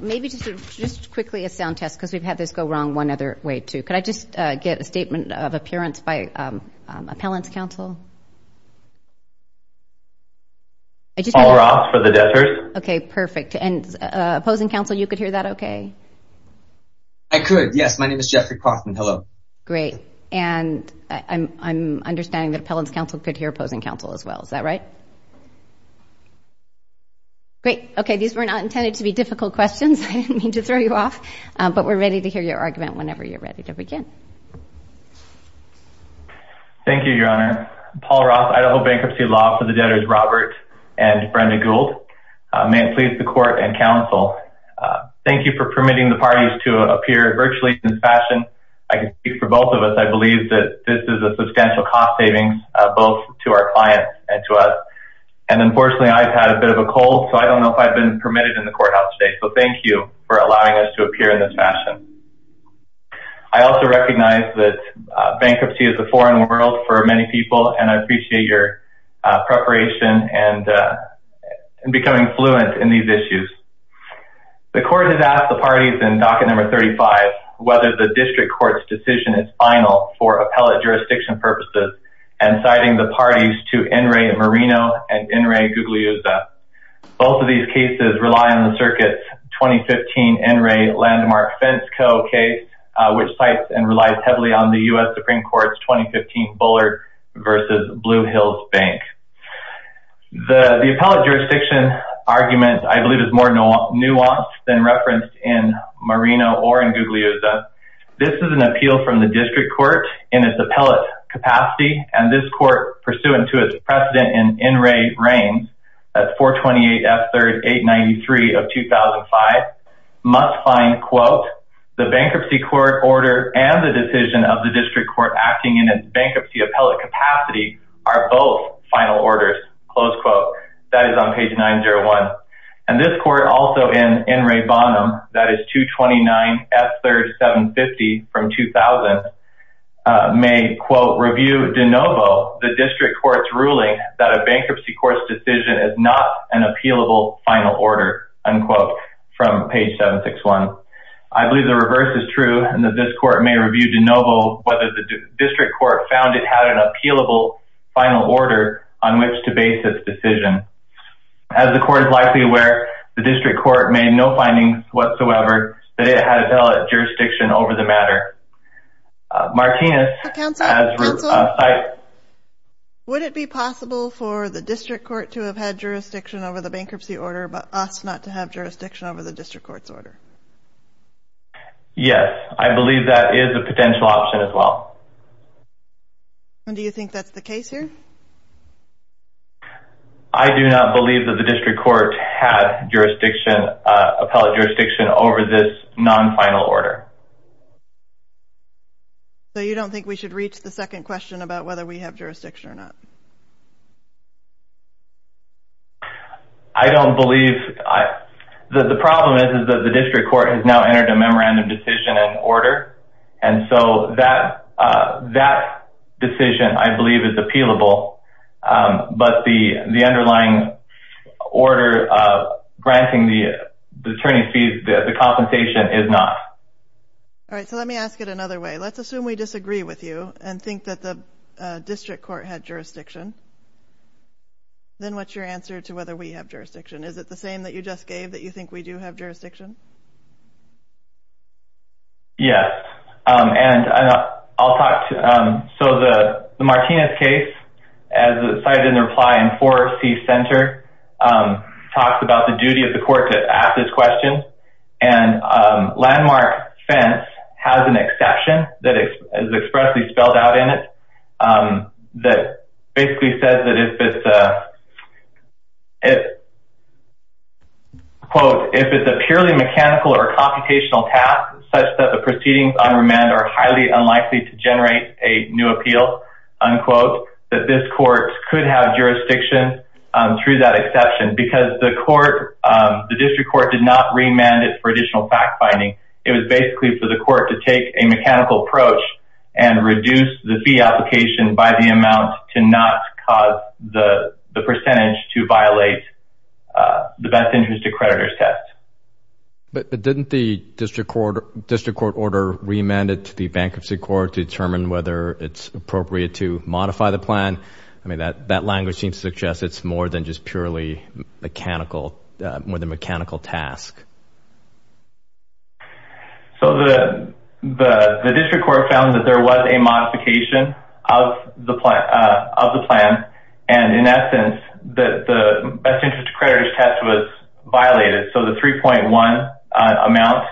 Maybe just quickly a sound test, because we've had this go wrong one other way, too. Could I just get a statement of appearance by appellant's counsel? Paul Ross for the district. Okay, perfect. And opposing counsel, you could hear that okay? I could, yes. My name is Jeffrey Kaufman. Hello. Great. And I'm understanding that appellant's counsel could hear opposing counsel as well. Is that right? Great. Okay, these were not intended to be difficult questions. I didn't mean to throw you off, but we're ready to hear your argument whenever you're ready to begin. Thank you, Your Honor. Paul Ross, Idaho Bankruptcy Law for the debtors Robert and Brenda Gould. May it please the court and counsel. Thank you for permitting the parties to appear virtually in this fashion. I can speak for both of us. I believe that this is a substantial cost savings both to our clients and to us. And unfortunately, I've had a bit of a cold, so I don't know if I've been permitted in the courthouse today. So thank you for allowing us to appear in this fashion. I also recognize that bankruptcy is a foreign world for many people, and I appreciate your preparation and becoming fluent in these issues. The court has asked the parties in docket number 35, whether the district court's decision is final for appellate jurisdiction purposes and citing the parties to In re Merino and In re Guglielmo. Both of these cases rely on the circuit's 2015 In re Landmark Fence Co case, which sites and relies heavily on the US Supreme Court's 2015 Bullard versus Blue Hills Bank. The appellate jurisdiction argument, I believe is more nuanced than referenced in Merino or in Guglielmo. This is an appeal from the district court in its appellate capacity and this court pursuant to its precedent in In re Reigns, that's 428 F-3rd 893 of 2005, must find quote, the bankruptcy court order and the decision of the district court acting in its bankruptcy appellate capacity are both final orders, close quote. That is on page 901. And this court also in In re Bonham, that is 229 F-3rd 750 from 2000 may quote, review de novo, the district court's ruling that a bankruptcy court's decision is not an appealable final order, unquote, from page 761. I believe the reverse is true and that this court may review de novo whether the district court found it had an appealable final order on which to base its decision. As the court is likely aware, the district court made no findings whatsoever that it had appellate jurisdiction over the matter. Martinez. Counsel. Counsel. Would it be possible for the district court to have had jurisdiction over the bankruptcy order, but us not to have jurisdiction over the district court's order? Yes, I believe that is a potential option as well. And do you think that's the case here? I do not believe that the district court had jurisdiction, appellate jurisdiction over this non-final order. So you don't think we should reach the second question about whether we have jurisdiction or not? I don't believe, the problem is that the district court has now entered a memorandum decision and order. And so that decision I believe is appealable, but the underlying order granting the attorney fees, the compensation is not. All right, so let me ask it another way. Let's assume we disagree with you and think that the district court had jurisdiction. Then what's your answer to whether we have jurisdiction? Is it the same that you just gave that you think we do have jurisdiction? Yes, and I'll talk to, so the Martinez case, as cited in the reply in Forestry Center, talks about the duty of the court to ask this question. And Landmark Fence has an exception that is expressly spelled out in it that basically says that if it's a, quote, if it's a purely mechanical or computational task, such that the proceedings on remand are highly unlikely to generate a new appeal, unquote, that this court could have jurisdiction through that exception because the court, the district court did not remand it for additional fact-finding. It was basically for the court to take a mechanical approach and reduce the fee application by the amount to not cause the percentage to violate the Best Interest Accreditors Test. But didn't the district court order remand it to the bankruptcy court to determine whether it's appropriate to modify the plan? I mean, that language seems to suggest it's more than just purely mechanical, more than mechanical task. So the district court found that there was a modification of the plan, and in essence, that the Best Interest Accreditors Test was violated, so the 3.1 amount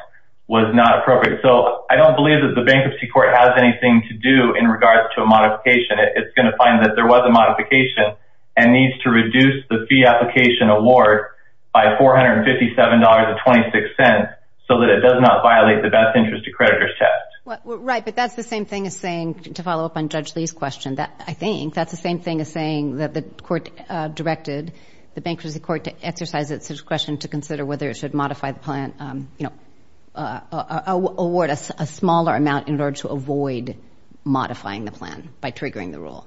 was not appropriate. So I don't believe that the bankruptcy court has anything to do in regards to a modification. It's gonna find that there was a modification and needs to reduce the fee application award by $457.26 so that it does not violate the Best Interest Accreditors Test. Right, but that's the same thing as saying, to follow up on Judge Lee's question, I think that's the same thing as saying that the court directed the bankruptcy court to exercise its discretion to consider whether it should modify the plan, you know, award a smaller amount in order to avoid modifying the plan by triggering the rule,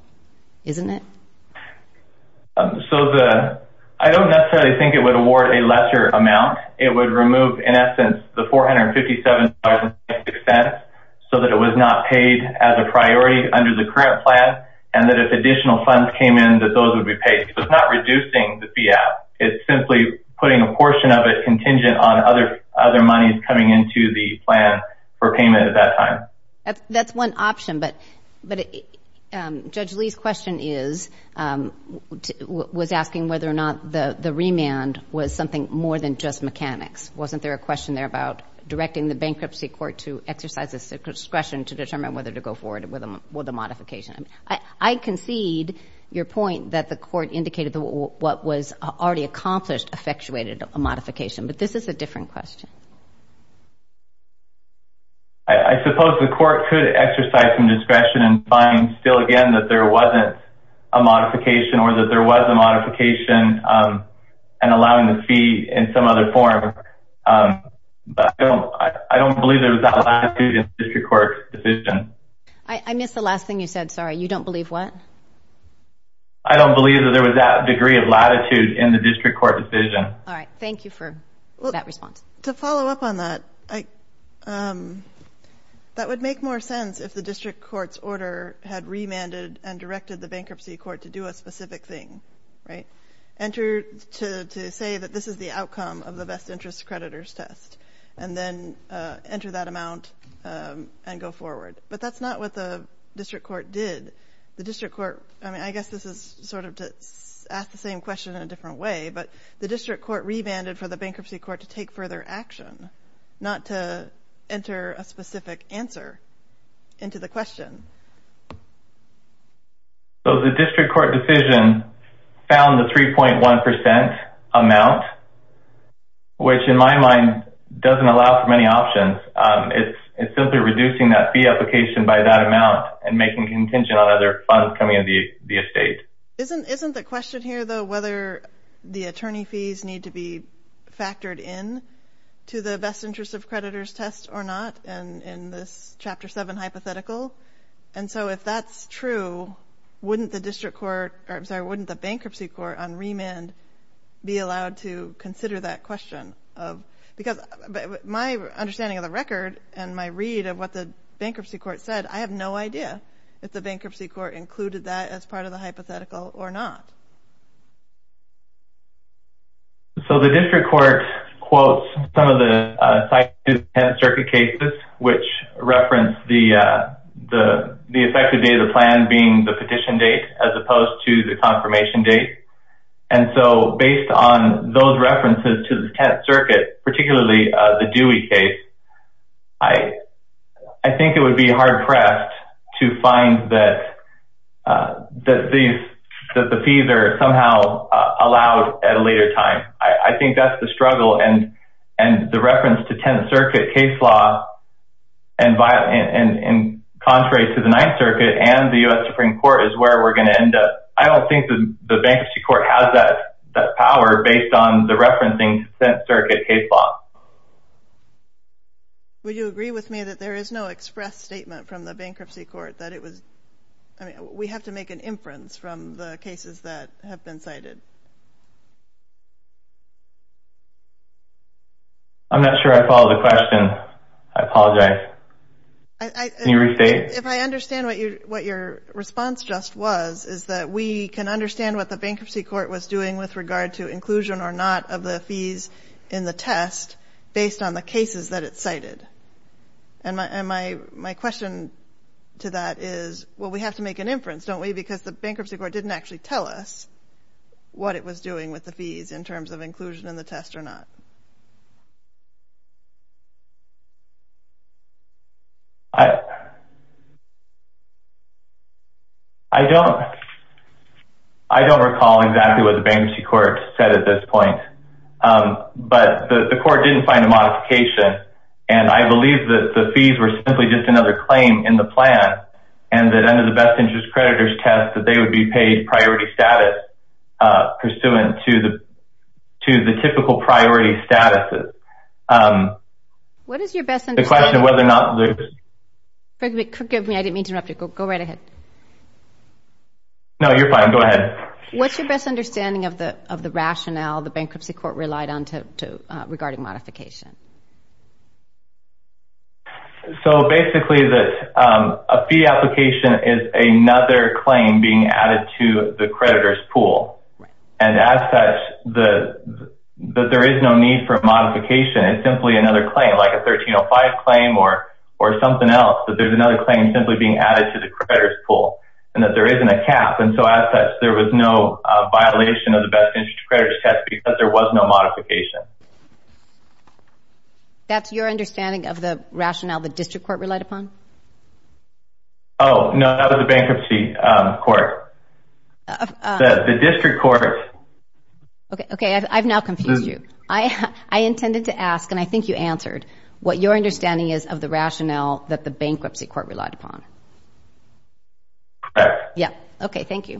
isn't it? So I don't necessarily think it would award a lesser amount. It would remove, in essence, the $457.26 so that it was not paid as a priority under the current plan, and that if additional funds came in, that those would be paid. So it's not reducing the fee out, it's simply putting a portion of it contingent on other monies coming into the plan for payment at that time. That's one option, but Judge Lee's question is, was asking whether or not the remand was something more than just mechanics. Wasn't there a question there about directing the bankruptcy court to exercise its discretion to determine whether to go forward with a modification? I concede your point that the court indicated what was already accomplished effectuated a modification, I suppose the court could exercise some discretion and find still again that there wasn't a modification or that there was a modification and allowing the fee in some other form, but I don't believe there was that latitude in the district court's decision. I missed the last thing you said, sorry. You don't believe what? I don't believe that there was that degree of latitude in the district court decision. All right, thank you for that response. To follow up on that, that would make more sense if the district court's order had remanded and directed the bankruptcy court to do a specific thing, right? Enter to say that this is the outcome of the best interest creditors test and then enter that amount and go forward, but that's not what the district court did. The district court, I mean, I guess this is sort of to ask the same question in a different way, but the district court remanded for the bankruptcy court to take further action, not to enter a specific answer. Into the question. So the district court decision found the 3.1% amount, which in my mind doesn't allow for many options. It's simply reducing that fee application by that amount and making contingent on other funds coming into the estate. Isn't the question here though, whether the attorney fees need to be factored in to the best interest of creditors test or not? And in this chapter seven hypothetical. And so if that's true, wouldn't the district court, or I'm sorry, wouldn't the bankruptcy court on remand be allowed to consider that question of, because my understanding of the record and my read of what the bankruptcy court said, I have no idea if the bankruptcy court included that as part of the hypothetical or not. So the district court quotes some of the circuit cases, which referenced the effective date of the plan being the petition date, as opposed to the confirmation date. And so based on those references to the 10th circuit, particularly the Dewey case, I think it would be hard pressed to find that the fees are somehow allowed at a later time. I think that's the struggle and the reference to 10th circuit case law and contrary to the ninth circuit and the US Supreme Court is where we're gonna end up. I don't think the bankruptcy court has that power based on the referencing 10th circuit case law. Would you agree with me that there is no express statement from the bankruptcy court that it was, I mean, we have to make an inference from the cases that have been cited? I'm not sure I follow the question. I apologize. If I understand what your response just was is that we can understand what the bankruptcy court was doing with regard to inclusion or not of the fees in the test based on the cases that it cited. And my question to that is, well, we have to make an inference, don't we? Because the bankruptcy court didn't actually tell us what it was doing with the fees in terms of inclusion in the test or not. I don't recall exactly what the bankruptcy court said at this point, but the court didn't find a modification. And I believe that the fees were simply just another claim in the plan and that under the best interest creditors test that they would be paid priority status pursuant to the typical priority statuses. What is your best understanding? The question of whether or not there's... Forgive me, I didn't mean to interrupt you. Go right ahead. No, you're fine. Go ahead. What's your best understanding of the rationale the bankruptcy court relied on regarding modification? So basically that a fee application is another claim being added to the creditor's pool. And as such, that there is no need for modification. It's simply another claim, like a 1305 claim or something else that there's another claim simply being added to the creditor's pool and that there isn't a cap. And so as such, there was no violation of the best interest creditors test because there was no modification. That's your understanding of the rationale the district court relied upon? Oh, no, not of the bankruptcy court. The district court... Okay, I've now confused you. I intended to ask, and I think you answered, what your understanding is of the rationale that the bankruptcy court relied upon. Yeah, okay, thank you.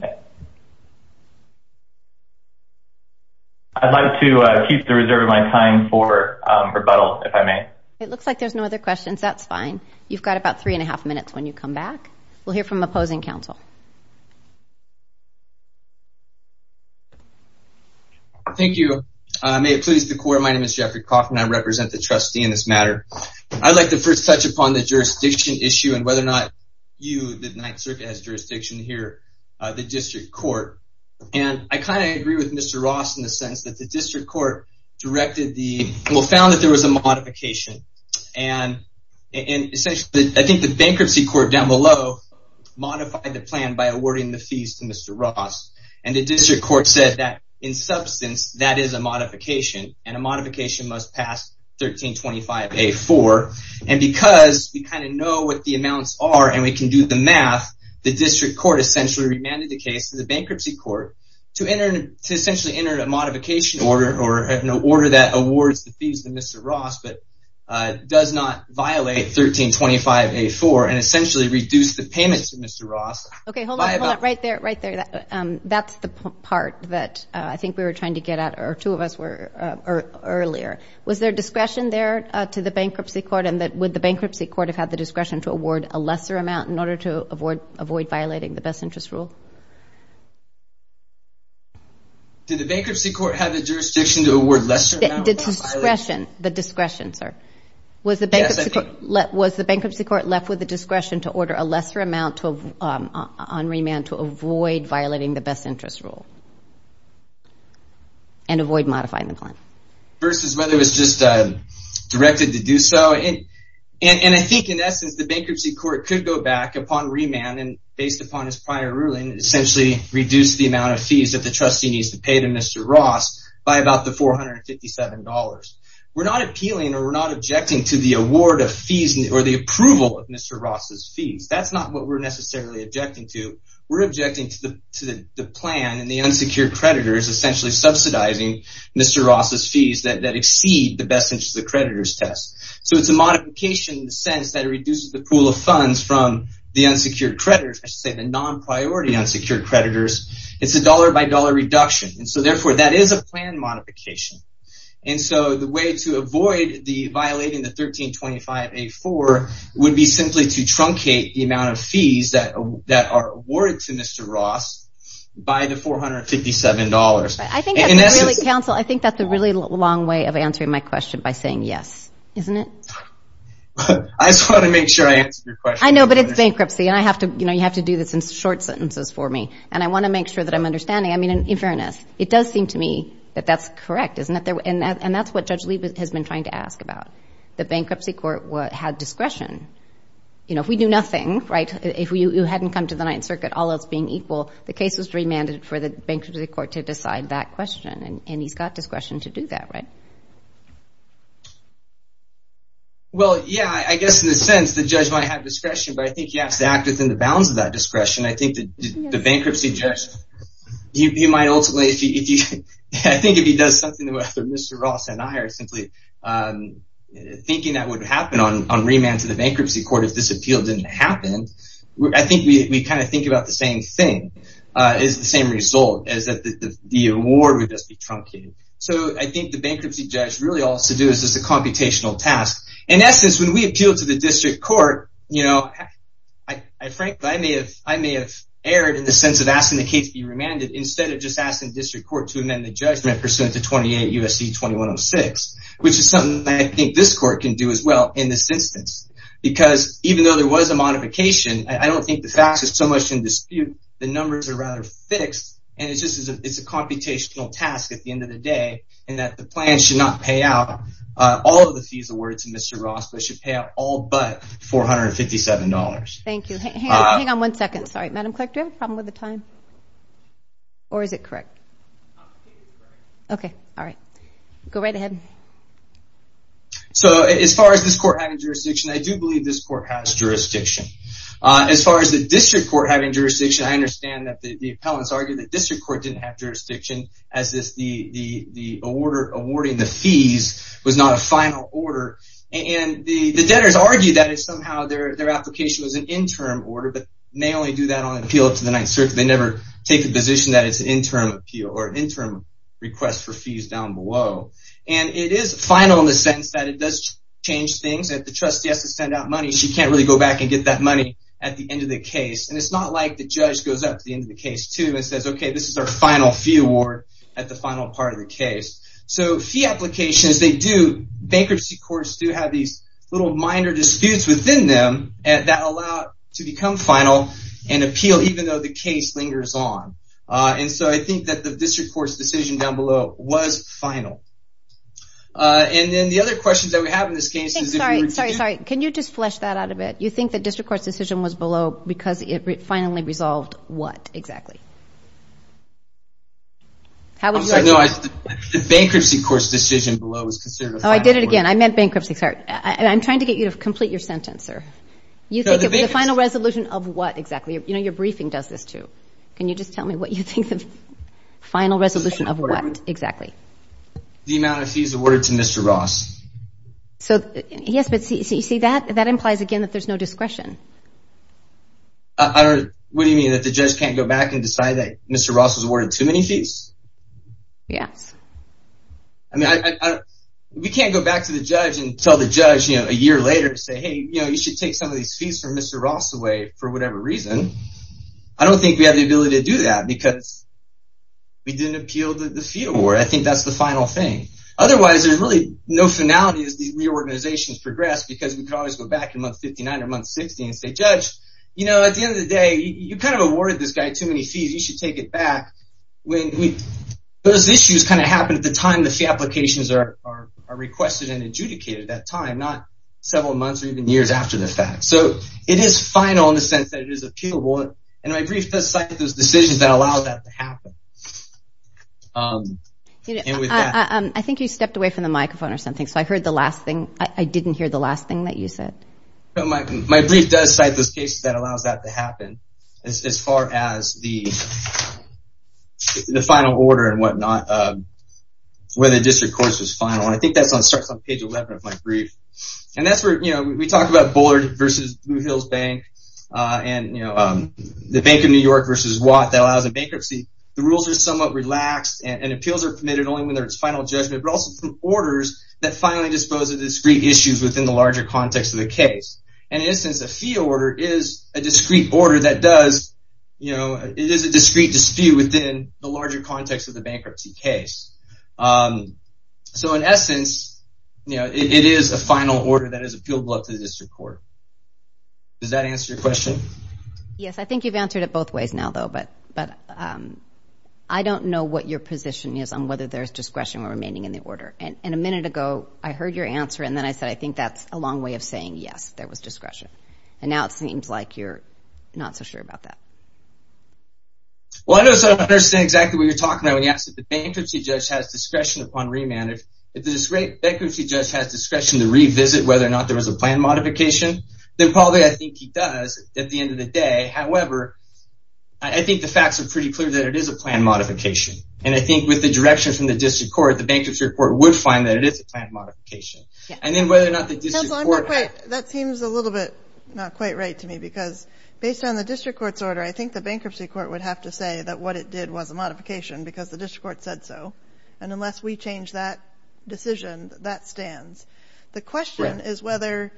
I'd like to keep the results of the question and reserve my time for rebuttal, if I may. It looks like there's no other questions. That's fine. You've got about three and a half minutes when you come back. We'll hear from opposing counsel. Thank you. May it please the court, my name is Jeffrey Coffin. I represent the trustee in this matter. I'd like to first touch upon the jurisdiction issue and whether or not you, the Ninth Circuit, has jurisdiction here, the district court. And I kind of agree with Mr. Ross in the sense that the district court directed the, well, found that there was a modification. And essentially, I think the bankruptcy court down below modified the plan by awarding the fees to Mr. Ross. And the district court said that, in substance, that is a modification, and a modification must pass 1325A-4. And because we kind of know what the amounts are and we can do the math, the district court essentially remanded the case to the bankruptcy court to essentially enter a modification order or an order that awards the fees to Mr. Ross, but does not violate 1325A-4 and essentially reduce the payments to Mr. Ross. Okay, hold on, hold on, right there, right there. That's the part that I think we were trying to get at, or two of us were earlier. Was there discretion there to the bankruptcy court and would the bankruptcy court have had the discretion to award a lesser amount in order to avoid violating the best interest rule? Did the bankruptcy court have the jurisdiction to award lesser amount? The discretion, sir. Was the bankruptcy court left with the discretion to order a lesser amount on remand to avoid violating the best interest rule? And avoid modifying the plan. Versus whether it was just directed to do so. And I think, in essence, the bankruptcy court could go back upon remand, and based upon his prior ruling, essentially reduce the amount of fees that the trustee needs to pay to Mr. Ross by about the $457. We're not appealing or we're not objecting to the award of fees or the approval of Mr. Ross's fees. That's not what we're necessarily objecting to. We're objecting to the plan and the unsecured creditors essentially subsidizing Mr. Ross's fees that exceed the best interest of creditors test. So it's a modification in the sense that it reduces the pool of funds from the unsecured creditors, I should say the non-priority unsecured creditors. It's a dollar-by-dollar reduction. And so therefore, that is a plan modification. And so the way to avoid violating the 1325A4 would be simply to truncate the amount of fees that are awarded to Mr. Ross by the $457. I think that's really, counsel, I think that's a really long way of answering my question by saying yes. Isn't it? I just want to make sure I answered your question. I know, but it's bankruptcy, and you have to do this in short sentences for me. And I want to make sure that I'm understanding. I mean, in fairness, it does seem to me that that's correct, isn't it? And that's what Judge Lee has been trying to ask about. The bankruptcy court had discretion. If we do nothing, right? If you hadn't come to the Ninth Circuit, all else being equal, the case was remanded for the bankruptcy court to decide that question. And he's got discretion to do that, right? Well, yeah, I guess in a sense, the judge might have discretion, but I think he has to act within the bounds of that discretion. I think that the bankruptcy judge, he might ultimately, I think if he does something that Mr. Ross and I are simply thinking that would happen on remand to the bankruptcy court if this appeal didn't happen, I think we kind of think about the same thing as the same result, as that the award would just be truncated. So I think the bankruptcy judge really all has to do is just a computational task. In essence, when we appeal to the district court, I frankly, I may have erred in the sense of asking the case to be remanded instead of just asking the district court to amend the judgment pursuant to 28 U.S.C. 2106, which is something that I think this court can do as well in this instance. Because even though there was a modification, I don't think the facts are so much in dispute, the numbers are rather fixed, and it's a computational task at the end of the day, and that the plan should not pay out all of the fees awarded to Mr. Ross, they should pay out all but $457. Thank you. Hang on one second. Sorry, Madam Clerk, do you have a problem with the time? Or is it correct? Okay, all right. Go right ahead. So as far as this court having jurisdiction, I do believe this court has jurisdiction. As far as the district court having jurisdiction, I understand that the appellants argue that district court didn't have jurisdiction as the awarding the fees was not a final order, and the debtors argue that it's somehow their application was an interim order, but they only do that on appeal to the Ninth Circuit. They never take the position that it's an interim appeal, or interim request for fees down below. And it is final in the sense that it does change things. If the trustee has to send out money, she can't really go back and get that money at the end of the case. And it's not like the judge goes up to the end of the case too and says, okay, this is our final fee award at the final part of the case. So fee applications, they do, bankruptcy courts do have these little minor disputes within them that allow it to become final and appeal even though the case lingers on. And so I think that the district court's decision down below was final. And then the other questions that we have in this case is if you were to do- Sorry, sorry, sorry, can you just flesh that out a bit? You think the district court's decision was below because it finally resolved what exactly? How would you answer that? The bankruptcy court's decision below was considered a final- Oh, I did it again. I meant bankruptcy, sorry. I'm trying to get you to complete your sentence, sir. You think it was the final resolution of what exactly? You know, your briefing does this too. Can you just tell me what you think the final resolution of what exactly? The amount of fees awarded to Mr. Ross. So, yes, but see that? That implies, again, that there's no discretion. What do you mean? That the judge can't go back and decide that Mr. Ross was awarded too many fees? Yes. We can't go back to the judge and tell the judge a year later and say, hey, you should take some of these fees from Mr. Ross away for whatever reason. I don't think we have the ability to do that because we didn't appeal the fee award. I think that's the final thing. Otherwise, there's really no finality as these reorganizations progress because we could always go back in month 59 or month 60 and say, judge, you know, at the end of the day, you kind of awarded this guy too many fees. You should take it back. When those issues kind of happen at the time the fee applications are requested and adjudicated at that time, not several months or even years after the fact. So, it is final in the sense that it is appealable. And my brief does cite those decisions that allow that to happen. I think you stepped away from the microphone or something. So, I heard the last thing. I didn't hear the last thing that you said. My brief does cite those cases that allows that to happen as far as the final order and whatnot, where the district court is final. And I think that starts on page 11 of my brief. And that's where, you know, we talked about Bullard versus Blue Hills Bank and, you know, the Bank of New York versus Watt that allows a bankruptcy. The rules are somewhat relaxed and appeals are permitted only when there's final judgment, but also from orders that finally dispose of discrete issues within the larger context of the case. And in this instance, a fee order is a discrete order that does, you know, it is a discrete dispute within the larger context of the bankruptcy case. So, in essence, you know, it is a final order that is appealable up to the district court. Does that answer your question? Yes, I think you've answered it both ways now though, but I don't know what your position is on whether there's discretion or remaining in the order. And a minute ago, I heard your answer and then I said, I think that's a long way of saying, yes, there was discretion. And now it seems like you're not so sure about that. Well, I don't understand exactly what you're talking about when you asked if the bankruptcy judge has discretion upon remand. If the bankruptcy judge has discretion to revisit whether or not there was a plan modification, then probably I think he does at the end of the day. However, I think the facts are pretty clear that it is a plan modification. And I think with the direction from the district court, the bankruptcy court would find that it is a plan modification. And then whether or not the district court- It seems a little bit not quite right to me because based on the district court's order, I think the bankruptcy court would have to say that what it did was a modification because the district court said so. And unless we change that decision, that stands. The question is whether,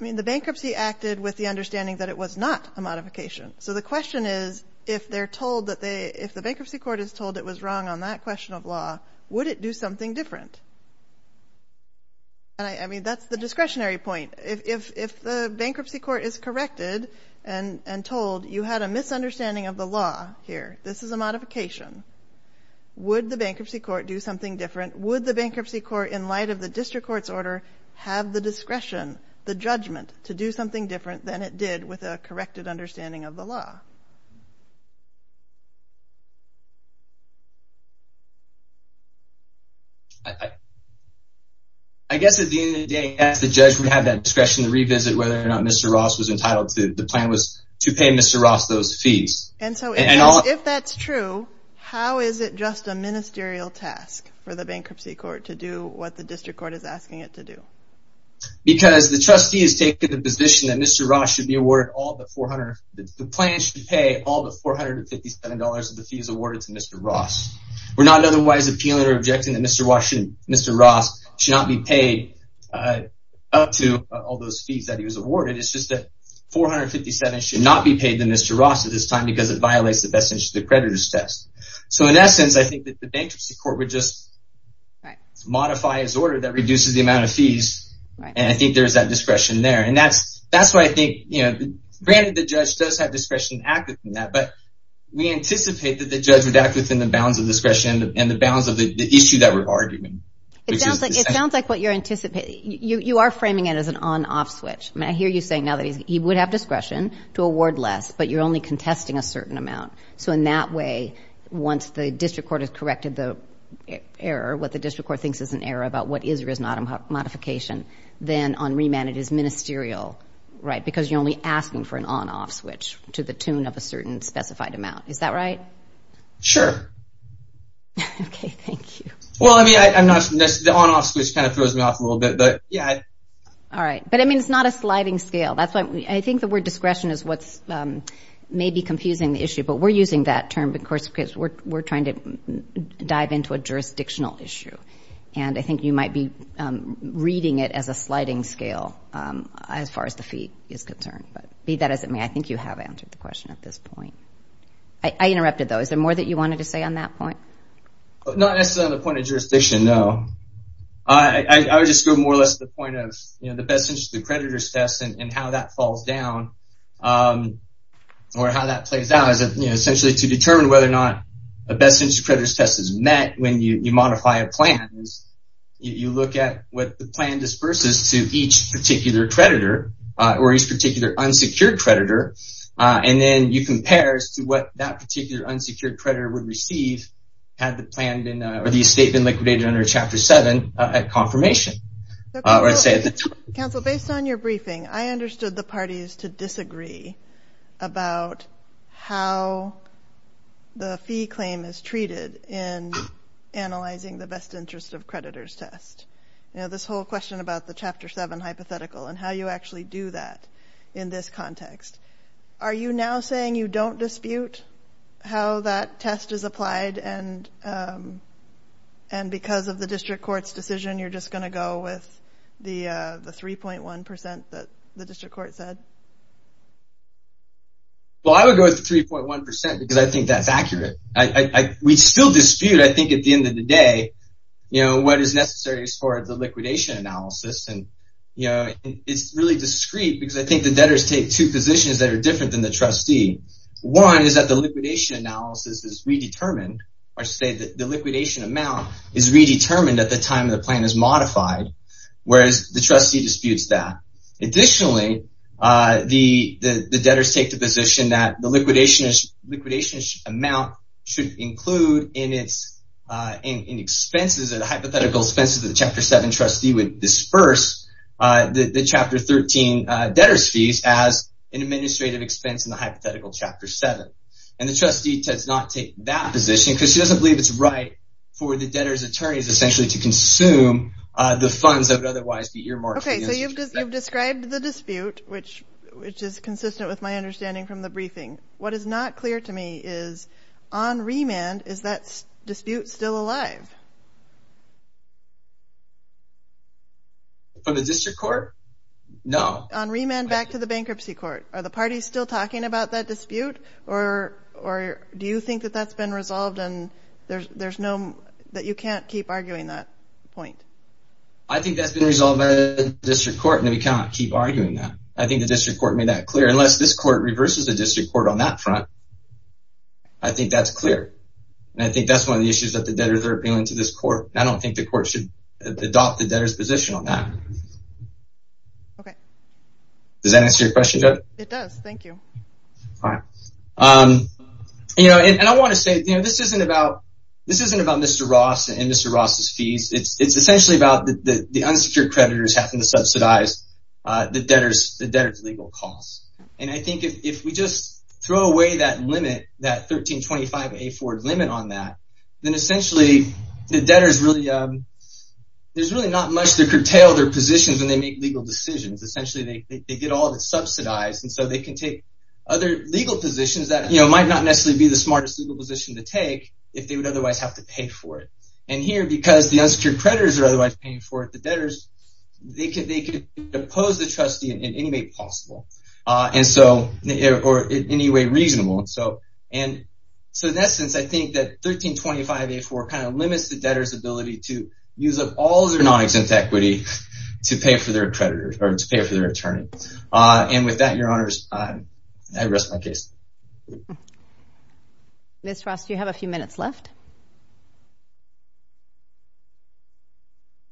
I mean, the bankruptcy acted with the understanding that it was not a modification. So the question is, if they're told that they, if the bankruptcy court is told it was wrong on that question of law, would it do something different? And I mean, that's the discretionary point. If the bankruptcy court is corrected and told you had a misunderstanding of the law here, this is a modification, would the bankruptcy court do something different? Would the bankruptcy court, in light of the district court's order, have the discretion, the judgment, to do something different than it did with a corrected understanding of the law? I guess at the end of the day, yes, the judge would have that discretion to revisit whether or not Mr. Ross was entitled to, the plan was to pay Mr. Ross those fees. And so if that's true, how is it just a ministerial task for the bankruptcy court to do what the district court is asking it to do? Because the trustee has taken the position And so if that's true, how is it just a ministerial task to pay all the $457 of the fees awarded to Mr. Ross? We're not otherwise appealing or objecting that Mr. Ross should not be paid up to all those fees that he was awarded. It's just that 457 should not be paid to Mr. Ross at this time because it violates the best interest of the creditor's test. So in essence, I think that the bankruptcy court would just modify his order that reduces the amount of fees. And I think there's that discretion there. And that's why I think, granted the judge does have discretion to act within that, but we anticipate that the judge would act within the bounds of discretion and the bounds of the issue that we're arguing. It sounds like what you're anticipating, you are framing it as an on-off switch. I mean, I hear you saying now that he would have discretion to award less, but you're only contesting a certain amount. So in that way, once the district court has corrected the error, what the district court thinks is an error about what is or is not a modification, then on remand it is ministerial, right? So you're only asking for an on-off switch to the tune of a certain specified amount. Is that right? Sure. Okay, thank you. Well, I mean, I'm not, the on-off switch kind of throws me off a little bit, but yeah. All right, but I mean, it's not a sliding scale. That's why I think the word discretion is what's maybe confusing the issue, but we're using that term, of course, because we're trying to dive into a jurisdictional issue. And I think you might be reading it as a sliding scale as far as the fee is concerned, but be that as it may, I think you have answered the question at this point. I interrupted, though. Is there more that you wanted to say on that point? Not necessarily on the point of jurisdiction, no. I would just go more or less to the point of, you know, the best interest of the creditor's test and how that falls down, or how that plays out as, you know, essentially to determine whether or not a best interest of the creditor's test is met when you modify a plan. You look at what the plan disperses to each particular creditor, or each particular unsecured creditor, and then you compare as to what that particular unsecured creditor would receive had the plan been, or the estate been liquidated under Chapter 7 at confirmation. Counsel, based on your briefing, I understood the parties to disagree about how the fee claim is treated in analyzing the best interest of creditor's test. You know, this whole question about the Chapter 7 hypothetical and how you actually do that in this context. Are you now saying you don't dispute how that test is applied, and because of the district court's decision, you're just gonna go with the 3.1% that the district court said? Well, I would go with the 3.1% because I think that's accurate. We still dispute, I think, at the end of the day, what is necessary for the liquidation analysis, and it's really discreet because I think the debtors take two positions that are different than the trustee. One is that the liquidation analysis is redetermined, or say that the liquidation amount is redetermined at the time the plan is modified, whereas the trustee disputes that. Additionally, the debtors take the position that the liquidation amount should include in expenses, in hypothetical expenses that the Chapter 7 trustee would disperse the Chapter 13 debtors' fees as an administrative expense in the hypothetical Chapter 7, and the trustee does not take that position because she doesn't believe it's right for the debtors' attorneys, essentially, to consume the funds that would otherwise be earmarked. Okay, so you've described the dispute, which is consistent with my understanding from the briefing. What is not clear to me is, on remand, is that dispute still alive? For the district court, no. On remand back to the bankruptcy court, are the parties still talking about that dispute, or do you think that that's been resolved and there's no, that you can't keep arguing that point? I think that's been resolved by the district court, and we can't keep arguing that. I think the district court made that clear. Unless this court reverses the district court on that front, I think that's clear, and I think that's one of the issues that the debtors are appealing to this court. I don't think the court should adopt the debtors' position on that. Okay. Does that answer your question, Judge? It does, thank you. All right. You know, and I wanna say, you know, this isn't about Mr. Ross and Mr. Ross's fees. It's essentially about the unsecured creditors having to subsidize the debtors' legal costs, and I think if we just throw away that limit, that 1325A4 limit on that, then essentially, the debtors really, there's really not much to curtail their positions when they make legal decisions. Essentially, they get all of it subsidized, and so they can take other legal positions that, you know, might not necessarily be the smartest legal position to take if they would otherwise have to pay for it, and here, because the unsecured creditors are otherwise paying for it, the debtors, they could depose the trustee in any way possible, and so, or in any way reasonable, and so in essence, I think that 1325A4 kind of limits the debtors' ability to use up all of their non-exempt equity to pay for their creditor, or to pay for their attorney, and with that, Your Honors, I rest my case. Ms. Ross, you have a few minutes left.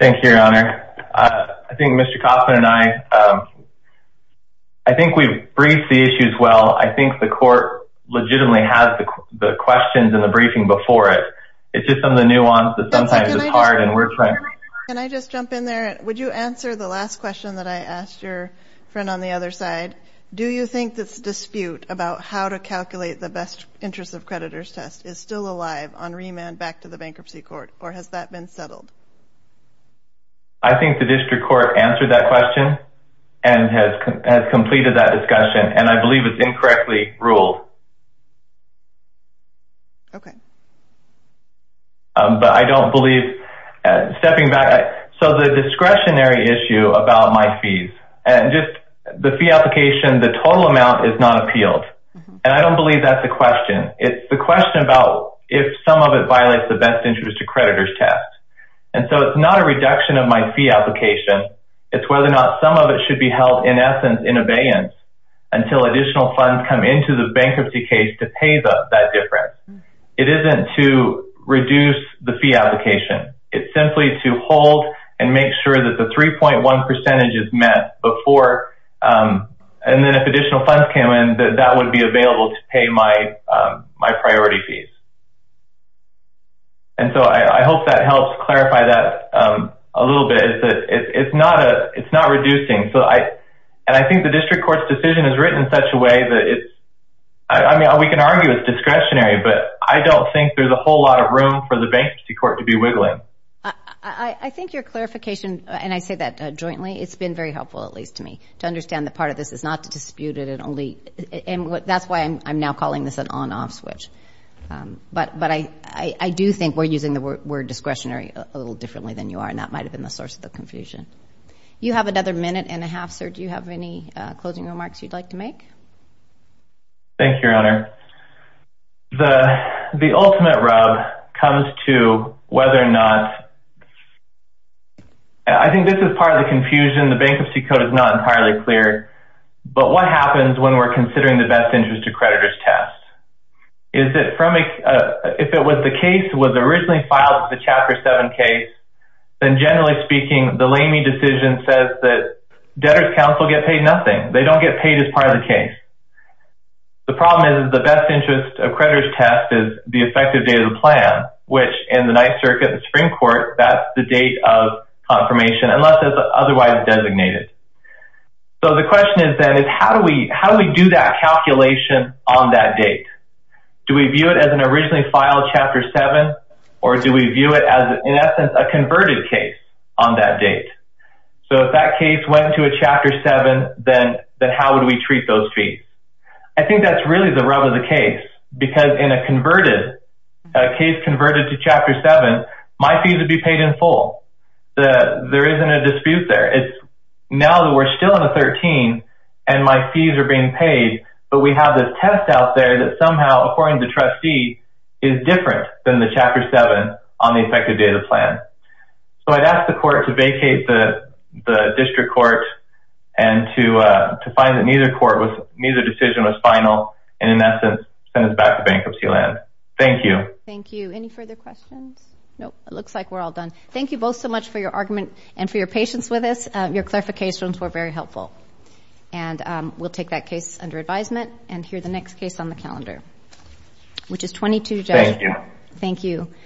Go ahead. Thank you, Your Honor. I think Mr. Kaufman and I, I think we've briefed the issues well. I think the court legitimately has the questions in the briefing before it. It's just some of the nuance that sometimes is hard, and we're trying to- Can I just jump in there? Would you answer the last question that I asked your friend on the other side? Do you think this dispute about how to calculate the best interest of creditors test is still alive on remand back to the bankruptcy court, or has that been settled? I think the district court answered that question, and has completed that discussion, and I believe it's incorrectly ruled. Okay. But I don't believe, stepping back, so the discretionary issue about my fees, and just the fee application, the total amount is not appealed, and I don't believe that's a question. It's the question about if some of it violates the best interest of creditors test. And so it's not a reduction of my fee application, it's whether or not some of it should be held, in essence, in abeyance, until additional funds come into the bankruptcy case to pay that difference. It isn't to reduce the fee application. It's simply to hold and make sure that the 3.1 percentage is met before, and then if additional funds came in, that that would be available to pay my priority fees. And so I hope that helps clarify that a little bit, is that it's not reducing. And I think the district court's decision is written in such a way that it's, I mean, we can argue it's discretionary, but I don't think there's a whole lot of room for the bankruptcy court to be wiggling. I think your clarification, and I say that jointly, it's been very helpful, at least to me, to understand the part of this is not to dispute it, and that's why I'm now calling this an on-off switch. But I do think we're using the word discretionary a little differently than you are, and that might have been the source of the confusion. You have another minute and a half, sir. Do you have any closing remarks you'd like to make? Thank you, Your Honor. The ultimate rub comes to whether or not, I think this is part of the confusion, the bankruptcy code is not entirely clear, but what happens when we're considering the best interest of creditors test? Is it from, if it was the case was originally filed as a Chapter 7 case, then generally speaking, the Lamey decision says that debtors counsel get paid nothing. They don't get paid as part of the case. The problem is the best interest of creditors test is the effective date of the plan, which in the Ninth Circuit and Supreme Court, that's the date of confirmation, unless it's otherwise designated. So the question is then, is how do we do that calculation on that date? Do we view it as an originally filed Chapter 7, or do we view it as, in essence, a converted case on that date? So if that case went to a Chapter 7, then how would we treat those fees? I think that's really the rub of the case, because in a case converted to Chapter 7, my fees would be paid in full. There isn't a dispute there. Now that we're still in the 13, and my fees are being paid, but we have this test out there that somehow, according to the trustee, is different than the Chapter 7 on the effective date of the plan. So I'd ask the court to vacate the district court and to find that neither decision was final, and in essence, send us back to bankruptcy land. Thank you. Thank you. Any further questions? Nope, it looks like we're all done. Thank you both so much for your argument and for your patience with us. Your clarifications were very helpful. And we'll take that case under advisement and hear the next case on the calendar, which is 22- Thank you. Thank you.